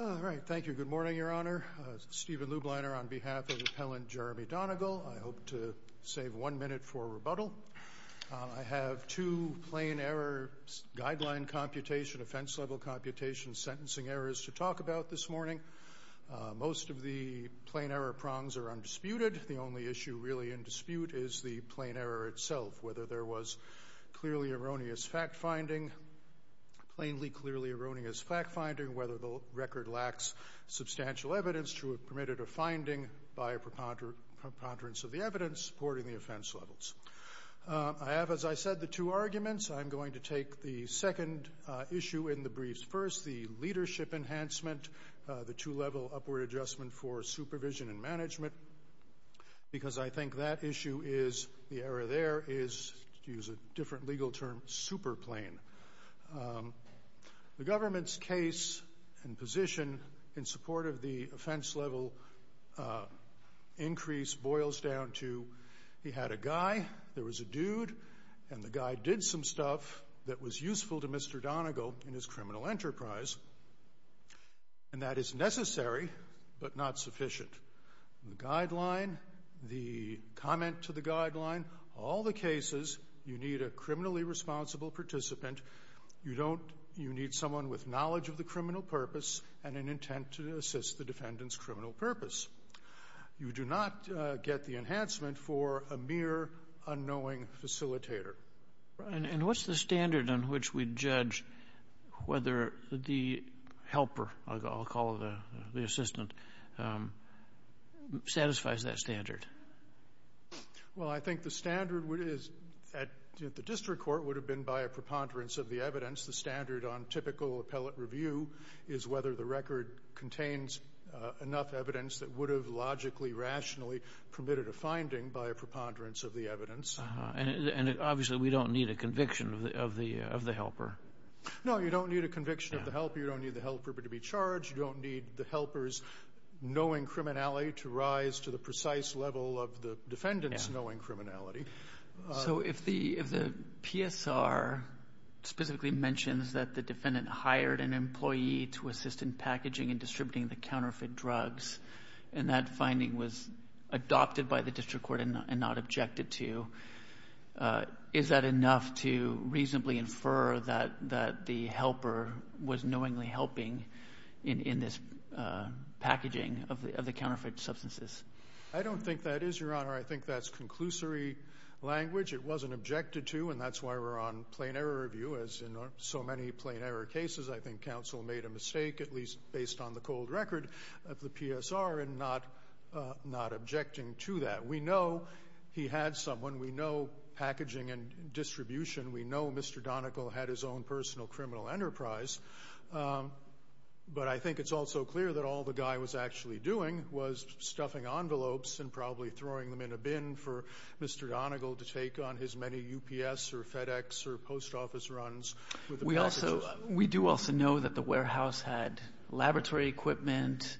All right. Thank you. Good morning, Your Honor. Stephen Lubliner on behalf of repellent Jeremy Donagal. I hope to save one minute for rebuttal. I have two plain error guideline computation, offense-level computation sentencing errors to talk about this morning. Most of the plain error prongs are undisputed. The only issue really in dispute is the plain error itself, whether there was clearly erroneous fact-finding, plainly clearly erroneous fact-finding, whether the record lacks substantial evidence to have permitted a finding by a preponderance of the evidence supporting the offense levels. I have, as I said, the two arguments. I'm going to take the second issue in the briefs first, the leadership enhancement, the two-level upward adjustment for supervision and management, because I think that issue is, the error there is, to use a different legal term, super plain. The government's case and position in support of the offense-level increase boils down to he had a guy, there was a dude, and the guy did some stuff that was useful to Mr. Donagal in his criminal enterprise, and that is necessary but not sufficient. The guideline, the comment to the guideline, all the cases you need a criminally responsible participant. You need someone with knowledge of the criminal purpose and an intent to assist the defendant's criminal purpose. You do not get the enhancement for a mere unknowing facilitator. And what's the standard on which we judge whether the helper, I'll call it the assistant, satisfies that standard? Well, I think the standard at the district court would have been by a preponderance of the evidence. The standard on typical appellate review is whether the record contains enough evidence that would have logically, rationally permitted a finding by a preponderance of the evidence. And obviously we don't need a conviction of the helper. No, you don't need a conviction of the helper. You don't need the helper to be charged. You don't need the helper's knowing criminality to rise to the precise level of the defendant's knowing criminality. So if the PSR specifically mentions that the defendant hired an employee to assist in packaging and distributing the counterfeit drugs and that finding was adopted by the district court and not objected to, is that enough to reasonably infer that the helper was knowingly helping in this packaging of the counterfeit substances? I don't think that is, Your Honor. I think that's conclusory language. It wasn't objected to, and that's why we're on plain error review. As in so many plain error cases, I think counsel made a mistake, at least based on the cold record of the PSR, in not objecting to that. We know he had someone. We know packaging and distribution. We know Mr. Donegal had his own personal criminal enterprise. But I think it's also clear that all the guy was actually doing was stuffing envelopes and probably throwing them in a bin for Mr. Donegal to take on his many UPS or FedEx or post office runs. We do also know that the warehouse had laboratory equipment.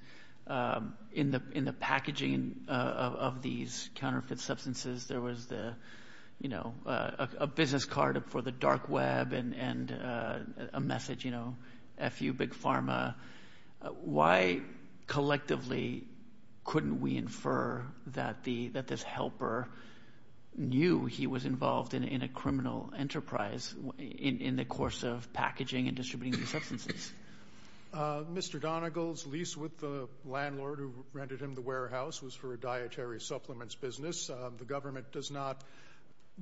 In the packaging of these counterfeit substances, there was a business card for the dark web and a message, you know, F.U. Big Pharma. Why collectively couldn't we infer that this helper knew he was involved in a criminal enterprise in the course of packaging and distributing these substances? Mr. Donegal's lease with the landlord who rented him the warehouse was for a dietary supplements business. The government does not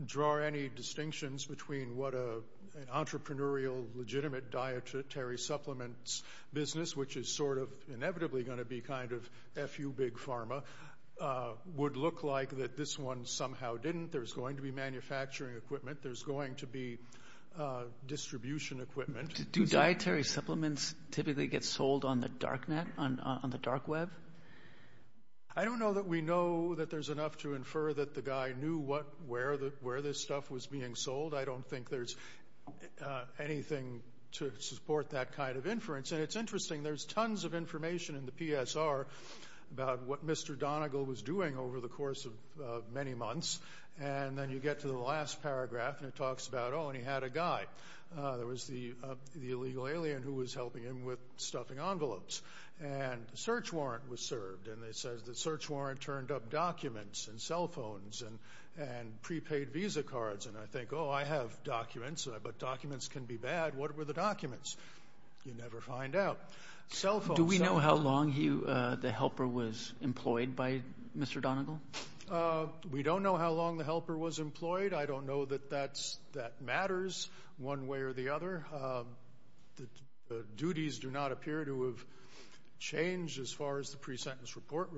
draw any distinctions between what an entrepreneurial, legitimate dietary supplements business, which is sort of inevitably going to be kind of F.U. Big Pharma, would look like that this one somehow didn't. There's going to be manufacturing equipment. There's going to be distribution equipment. Do dietary supplements typically get sold on the dark net, on the dark web? I don't know that we know that there's enough to infer that the guy knew where this stuff was being sold. I don't think there's anything to support that kind of inference. And it's interesting. There's tons of information in the PSR about what Mr. Donegal was doing over the course of many months. And then you get to the last paragraph, and it talks about, oh, and he had a guy. There was the illegal alien who was helping him with stuffing envelopes. And a search warrant was served. And it says the search warrant turned up documents and cell phones and prepaid visa cards. And I think, oh, I have documents, but documents can be bad. What were the documents? You never find out. Cell phones. Do we know how long the helper was employed by Mr. Donegal? We don't know how long the helper was employed. I don't know that that matters one way or the other. The duties do not appear to have changed as far as the pre-sentence report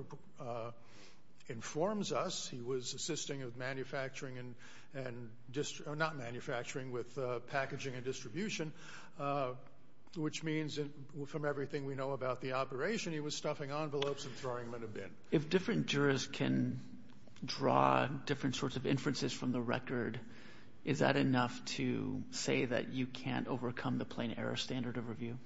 informs us. He was assisting with manufacturing and not manufacturing, with packaging and distribution, which means from everything we know about the operation, he was stuffing envelopes and throwing them in a bin. If different jurors can draw different sorts of inferences from the record, is that enough to say that you can't overcome the plain error standard of review?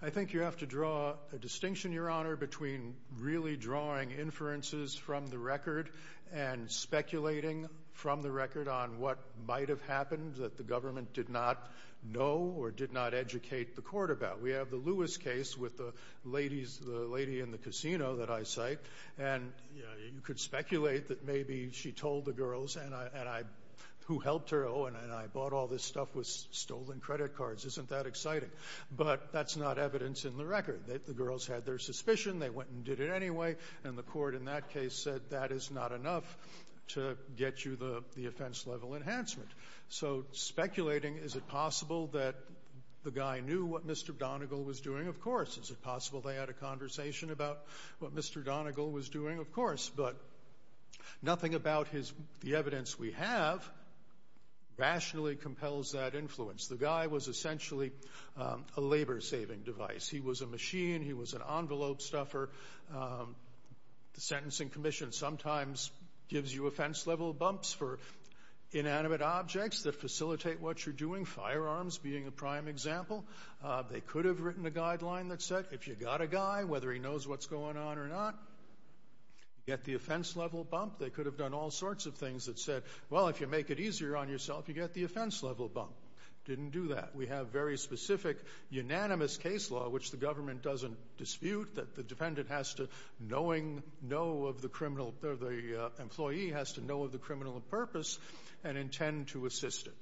I think you have to draw a distinction, Your Honor, between really drawing inferences from the record and speculating from the record on what might have happened that the government did not know or did not educate the court about. We have the Lewis case with the lady in the casino that I cite, and you could speculate that maybe she told the girls who helped her, oh, and I bought all this stuff with stolen credit cards. Isn't that exciting? But that's not evidence in the record. The girls had their suspicion. They went and did it anyway, and the court in that case said that is not enough to get you the offense-level enhancement. So speculating, is it possible that the guy knew what Mr. Donegal was doing? Of course. Is it possible they had a conversation about what Mr. Donegal was doing? Of course. But nothing about the evidence we have rationally compels that influence. The guy was essentially a labor-saving device. He was a machine. He was an envelope stuffer. The Sentencing Commission sometimes gives you offense-level bumps for inanimate objects that facilitate what you're doing, firearms being a prime example. They could have written a guideline that said if you got a guy, whether he knows what's going on or not, you get the offense-level bump. They could have done all sorts of things that said, well, if you make it easier on yourself, you get the offense-level bump. Didn't do that. We have very specific, unanimous case law, which the government doesn't dispute, that the defendant has to knowing, know of the criminal, the employee has to know of the criminal purpose and intend to assist it.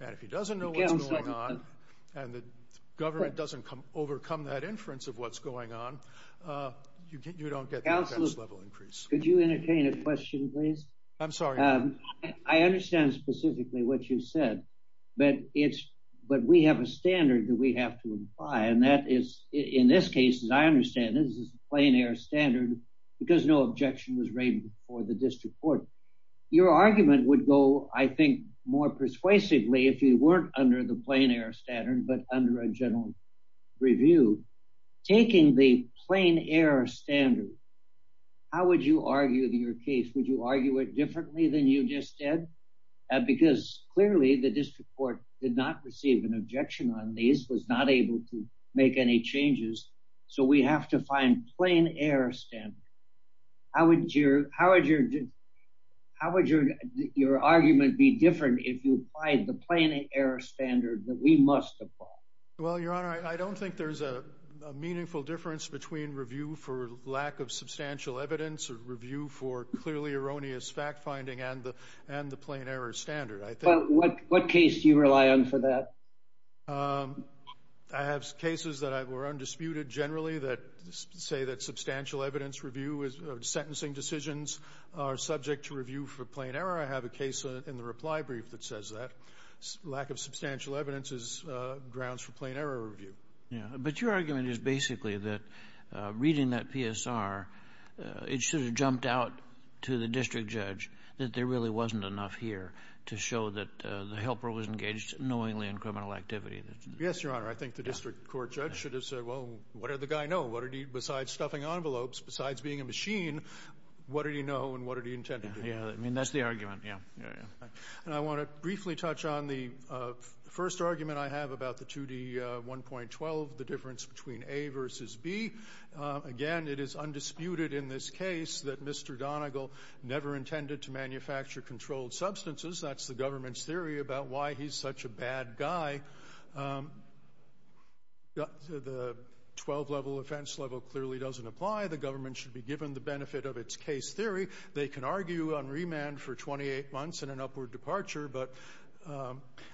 And if he doesn't know what's going on and the government doesn't overcome that inference of what's going on, you don't get the offense-level increase. Counsel, could you entertain a question, please? I'm sorry. I understand specifically what you said, but we have a standard that we have to imply, and that is in this case, as I understand it, this is a plain-air standard because no objection was raised before the district court. Your argument would go, I think, more persuasively if you weren't under the plain-air standard, but under a general review. Taking the plain-air standard, how would you argue your case? Would you argue it differently than you just did? Because clearly the district court did not receive an objection on these, was not able to make any changes, so we have to find plain-air standards. How would your argument be different if you applied the plain-air standard that we must apply? Well, Your Honor, I don't think there's a meaningful difference between review for lack of substantial evidence or review for clearly erroneous fact-finding and the plain-air standard. What case do you rely on for that? I have cases that were undisputed generally that say that substantial evidence review or sentencing decisions are subject to review for plain error. I have a case in the reply brief that says that. Lack of substantial evidence grounds for plain-error review. But your argument is basically that reading that PSR, it should have jumped out to the district judge that there really wasn't enough here to show that the helper was engaged knowingly in criminal activity. Yes, Your Honor. I think the district court judge should have said, well, what did the guy know? What did he, besides stuffing envelopes, besides being a machine, what did he know and what did he intend to do? Yeah. I mean, that's the argument. Yeah. And I want to briefly touch on the first argument I have about the 2D1.12, the difference between A versus B. Again, it is undisputed in this case that Mr. Donegal never intended to manufacture controlled substances. That's the government's theory about why he's such a bad guy. The 12-level offense level clearly doesn't apply. The government should be given the benefit of its case theory. They can argue on remand for 28 months and an upward departure, but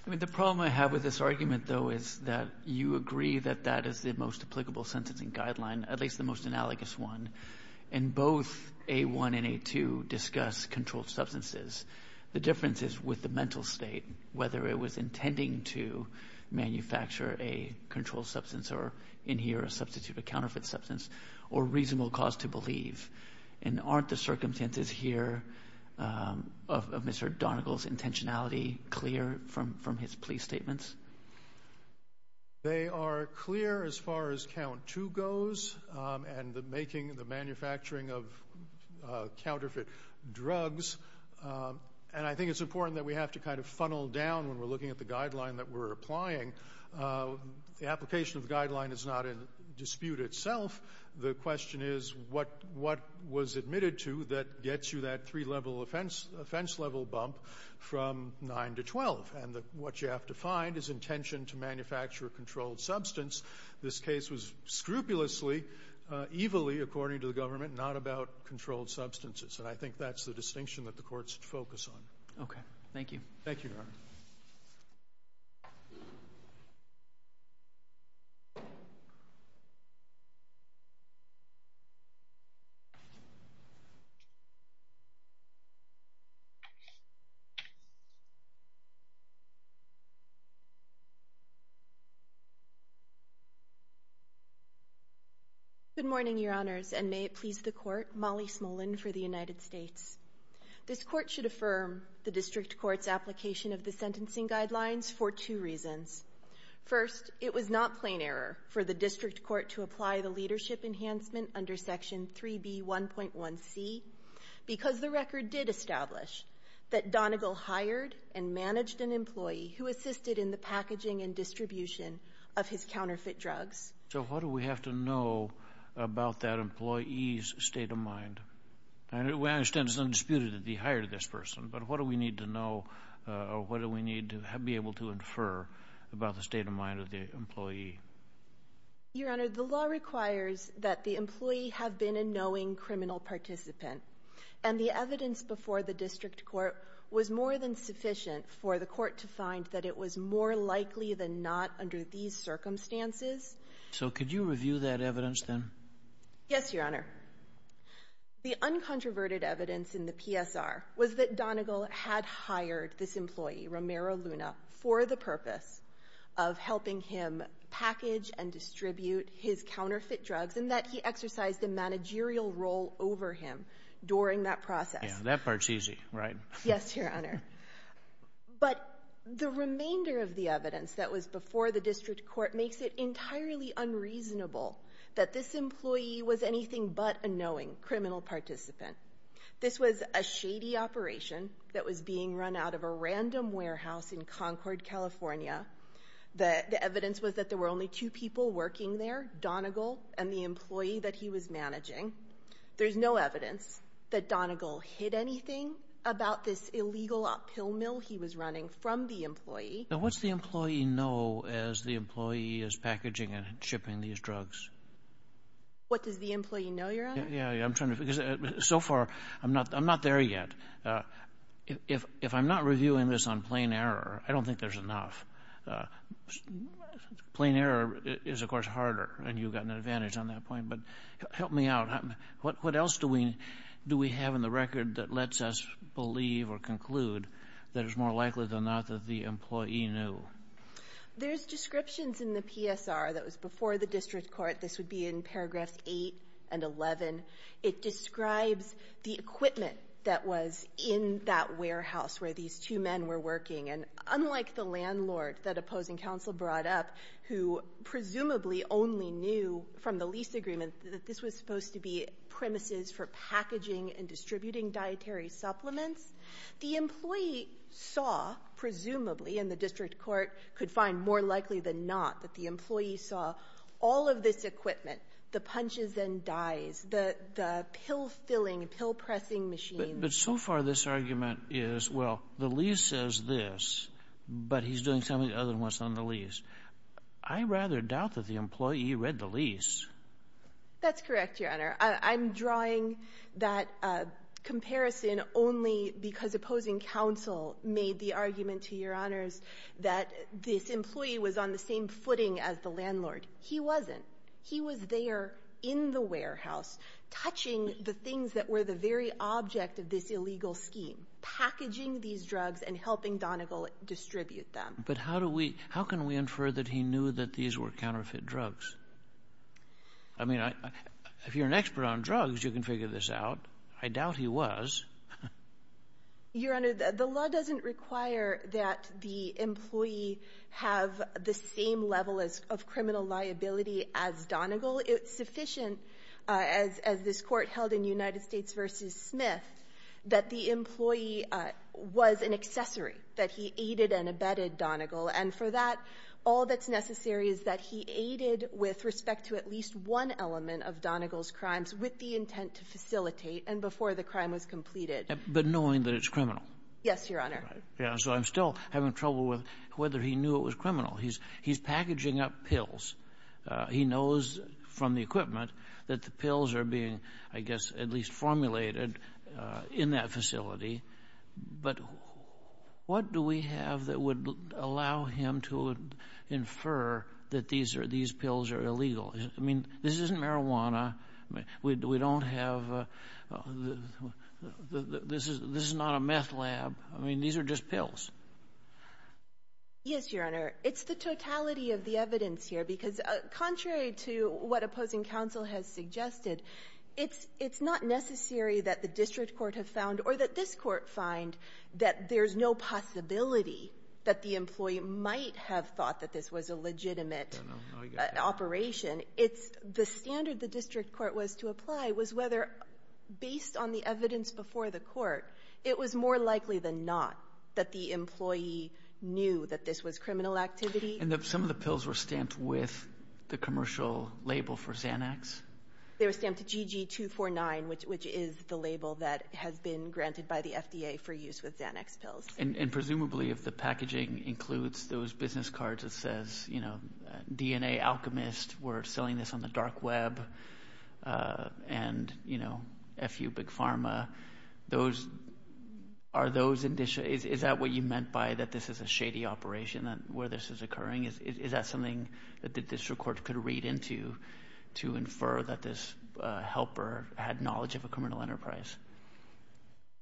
the problem I have with this argument, though, is that you agree that that is the most applicable sentencing guideline, at least the most analogous one, and both A1 and A2 discuss controlled substances. The difference is with the mental state, whether it was intending to manufacture a controlled substance or in here substitute a counterfeit substance or reasonable cause to believe. And aren't the circumstances here of Mr. Donegal's intentionality clear from his plea statements? They are clear as far as count two goes and making the manufacturing of counterfeit drugs. And I think it's important that we have to kind of funnel down when we're looking at the guideline that we're applying. The application of the guideline is not in dispute itself. The question is what was admitted to that gets you that three-level offense level bump from 9 to 12. And what you have to find is intention to manufacture a controlled substance. This case was scrupulously, evilly, according to the government, not about controlled substances, and I think that's the distinction that the Court should focus on. Okay. Thank you. Thank you, Your Honor. Good morning, Your Honors, and may it please the Court. Molly Smolin for the United States. This Court should affirm the District Court's application of the sentencing guidelines for two reasons. First, it was not plain error for the District Court to apply the leadership enhancement under Section 3B1.1c because the record did establish that Donegal hired and managed an employee who assisted in the packaging and distribution of his counterfeit drugs. So what do we have to know about that employee's state of mind? I understand it's undisputed that he hired this person, but what do we need to know or what do we need to be able to infer about the state of mind of the employee? Your Honor, the law requires that the employee have been a knowing criminal participant, and the evidence before the District Court was more than sufficient for the Court to find that it was more likely than not under these circumstances. So could you review that evidence, then? Yes, Your Honor. The uncontroverted evidence in the PSR was that Donegal had hired this employee, Romero Luna, for the purpose of helping him package and distribute his counterfeit drugs and that he exercised a managerial role over him during that process. Yeah, that part's easy, right? Yes, Your Honor. But the remainder of the evidence that was before the District Court makes it entirely unreasonable that this employee was anything but a knowing criminal participant. This was a shady operation that was being run out of a random warehouse in Concord, California. The evidence was that there were only two people working there, Donegal and the employee that he was managing. There's no evidence that Donegal hid anything about this illegal pill mill he was running from the employee. Now, what's the employee know as the employee is packaging and shipping these drugs? What does the employee know, Your Honor? Yeah, I'm trying to figure it out. So far, I'm not there yet. If I'm not reviewing this on plain error, I don't think there's enough. Plain error is, of course, harder, and you've got an advantage on that point. But help me out. What else do we have in the record that lets us believe or conclude that it's more likely than not that the employee knew? There's descriptions in the PSR that was before the District Court. This would be in paragraphs 8 and 11. It describes the equipment that was in that warehouse where these two men were working. And unlike the landlord that opposing counsel brought up, who presumably only knew from the lease agreement that this was supposed to be premises for packaging and distributing dietary supplements, the employee saw, presumably, and the District Court could find more likely than not that the employee saw all of this equipment, the punches and dyes, the pill-filling, pill-pressing machines. But so far this argument is, well, the lease says this, but he's doing something other than what's on the lease. I rather doubt that the employee read the lease. That's correct, Your Honor. I'm drawing that comparison only because opposing counsel made the argument to Your Honors that this employee was on the same footing as the landlord. He wasn't. He was there in the warehouse touching the things that were the very object of this illegal scheme, packaging these drugs and helping Donegal distribute them. But how do we – how can we infer that he knew that these were counterfeit drugs? I mean, if you're an expert on drugs, you can figure this out. I doubt he was. Your Honor, the law doesn't require that the employee have the same level of criminal liability as Donegal. It's sufficient, as this Court held in United States v. Smith, that the employee was an accessory, that he aided and abetted Donegal. And for that, all that's necessary is that he aided with respect to at least one element of Donegal's crimes with the intent to facilitate and before the crime was completed. But knowing that it's criminal? Yes, Your Honor. Right. Yeah. So I'm still having trouble with whether he knew it was criminal. He's packaging up pills. He knows from the equipment that the pills are being, I guess, at least formulated in that facility. But what do we have that would allow him to infer that these are – these pills are illegal? I mean, this isn't marijuana. We don't have – this is not a meth lab. I mean, these are just pills. Yes, Your Honor. It's the totality of the evidence here, because contrary to what opposing counsel has suggested, it's not necessary that the district court have found or that this court find that there's no possibility that the employee might have thought that this was a legitimate operation. It's the standard the district court was to apply was whether, based on the evidence before the court, it was more likely than not that the employee knew that this was criminal activity. And some of the pills were stamped with the commercial label for Xanax? They were stamped GG249, which is the label that has been granted by the FDA for use with Xanax pills. And presumably, if the packaging includes those business cards that says, you know, DNA Alchemist, we're selling this on the dark web, and, you know, FU Big Pharma, those – are those – is that what you meant by that this is a shady operation where this is occurring? Is that something that the district court could read into to infer that this helper had knowledge of a criminal enterprise?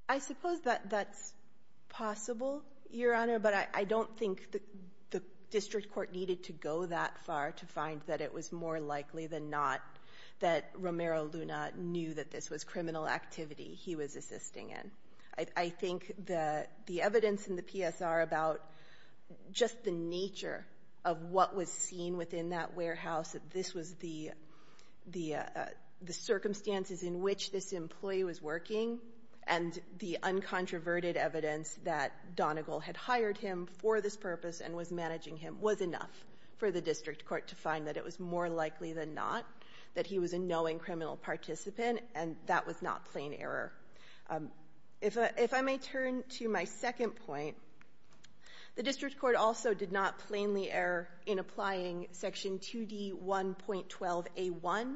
I suppose that that's possible, Your Honor, but I don't think the district court needed to go that far to find that it was more likely than not that Romero Luna knew that this was criminal activity he was assisting in. I think that the evidence in the PSR about just the nature of what was seen within that warehouse, that this was the circumstances in which this employee was working and the uncontroverted evidence that Donegal had hired him for this purpose and was managing him was enough for the district court to find that it was more likely than not that he was a knowing criminal participant, and that was not plain error. If I may turn to my second point, the district court also did not plainly err in applying Section 2D1.12a.1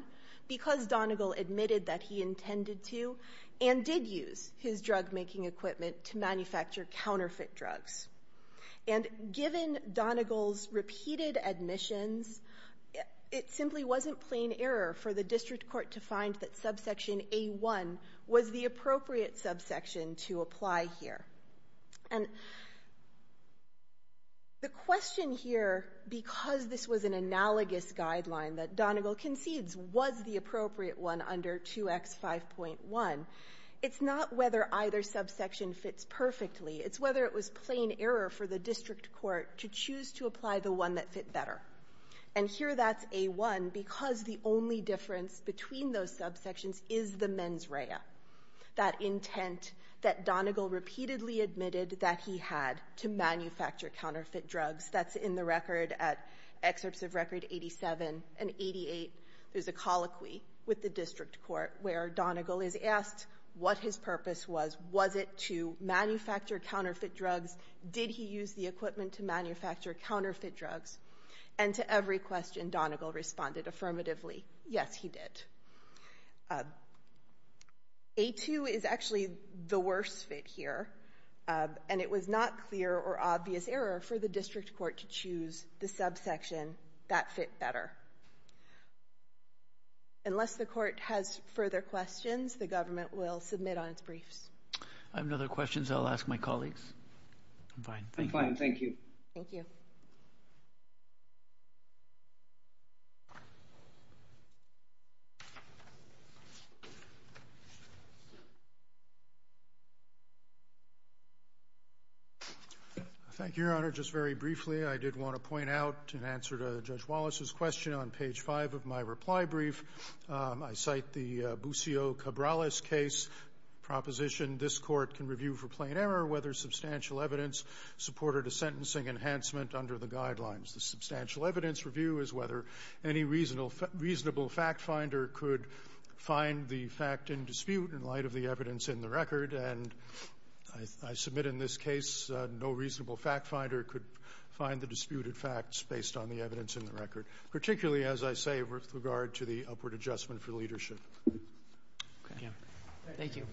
because Donegal admitted that he intended to and did use his drug-making equipment to manufacture counterfeit drugs. And given Donegal's repeated admissions, it simply wasn't plain error for the district court to find that subsection a.1 was the appropriate subsection to apply here. And the question here, because this was an analogous guideline that Donegal concedes was the appropriate one under 2X5.1, it's not whether either subsection fits perfectly. It's whether it was plain error for the district court to choose to apply the one that fit better. And here that's a.1 because the only difference between those subsections is the mens rea, that intent that Donegal repeatedly admitted that he had to manufacture counterfeit drugs. That's in the record at Excerpts of Record 87 and 88. There's a colloquy with the district court where Donegal is asked what his purpose was. Was it to manufacture counterfeit drugs? Did he use the equipment to manufacture counterfeit drugs? And to every question, Donegal responded affirmatively, yes, he did. A.2 is actually the worst fit here, and it was not clear or obvious error for the district court to choose the subsection that fit better. Unless the court has further questions, the government will submit on its briefs. I have no other questions. I'll ask my colleagues. I'm fine. I'm fine. Thank you. Thank you. Thank you, Your Honor. Just very briefly, I did want to point out in answer to Judge Kagan on page 5 of my reply brief, I cite the Buscio-Cabrales case proposition, this court can review for plain error whether substantial evidence supported a sentencing enhancement under the guidelines. The substantial evidence review is whether any reasonable fact finder could find the fact in dispute in light of the evidence in the record, and I submit in this case no reasonable fact finder could find the disputed facts based on the record, particularly, as I say, with regard to the upward adjustment for leadership. Thank you.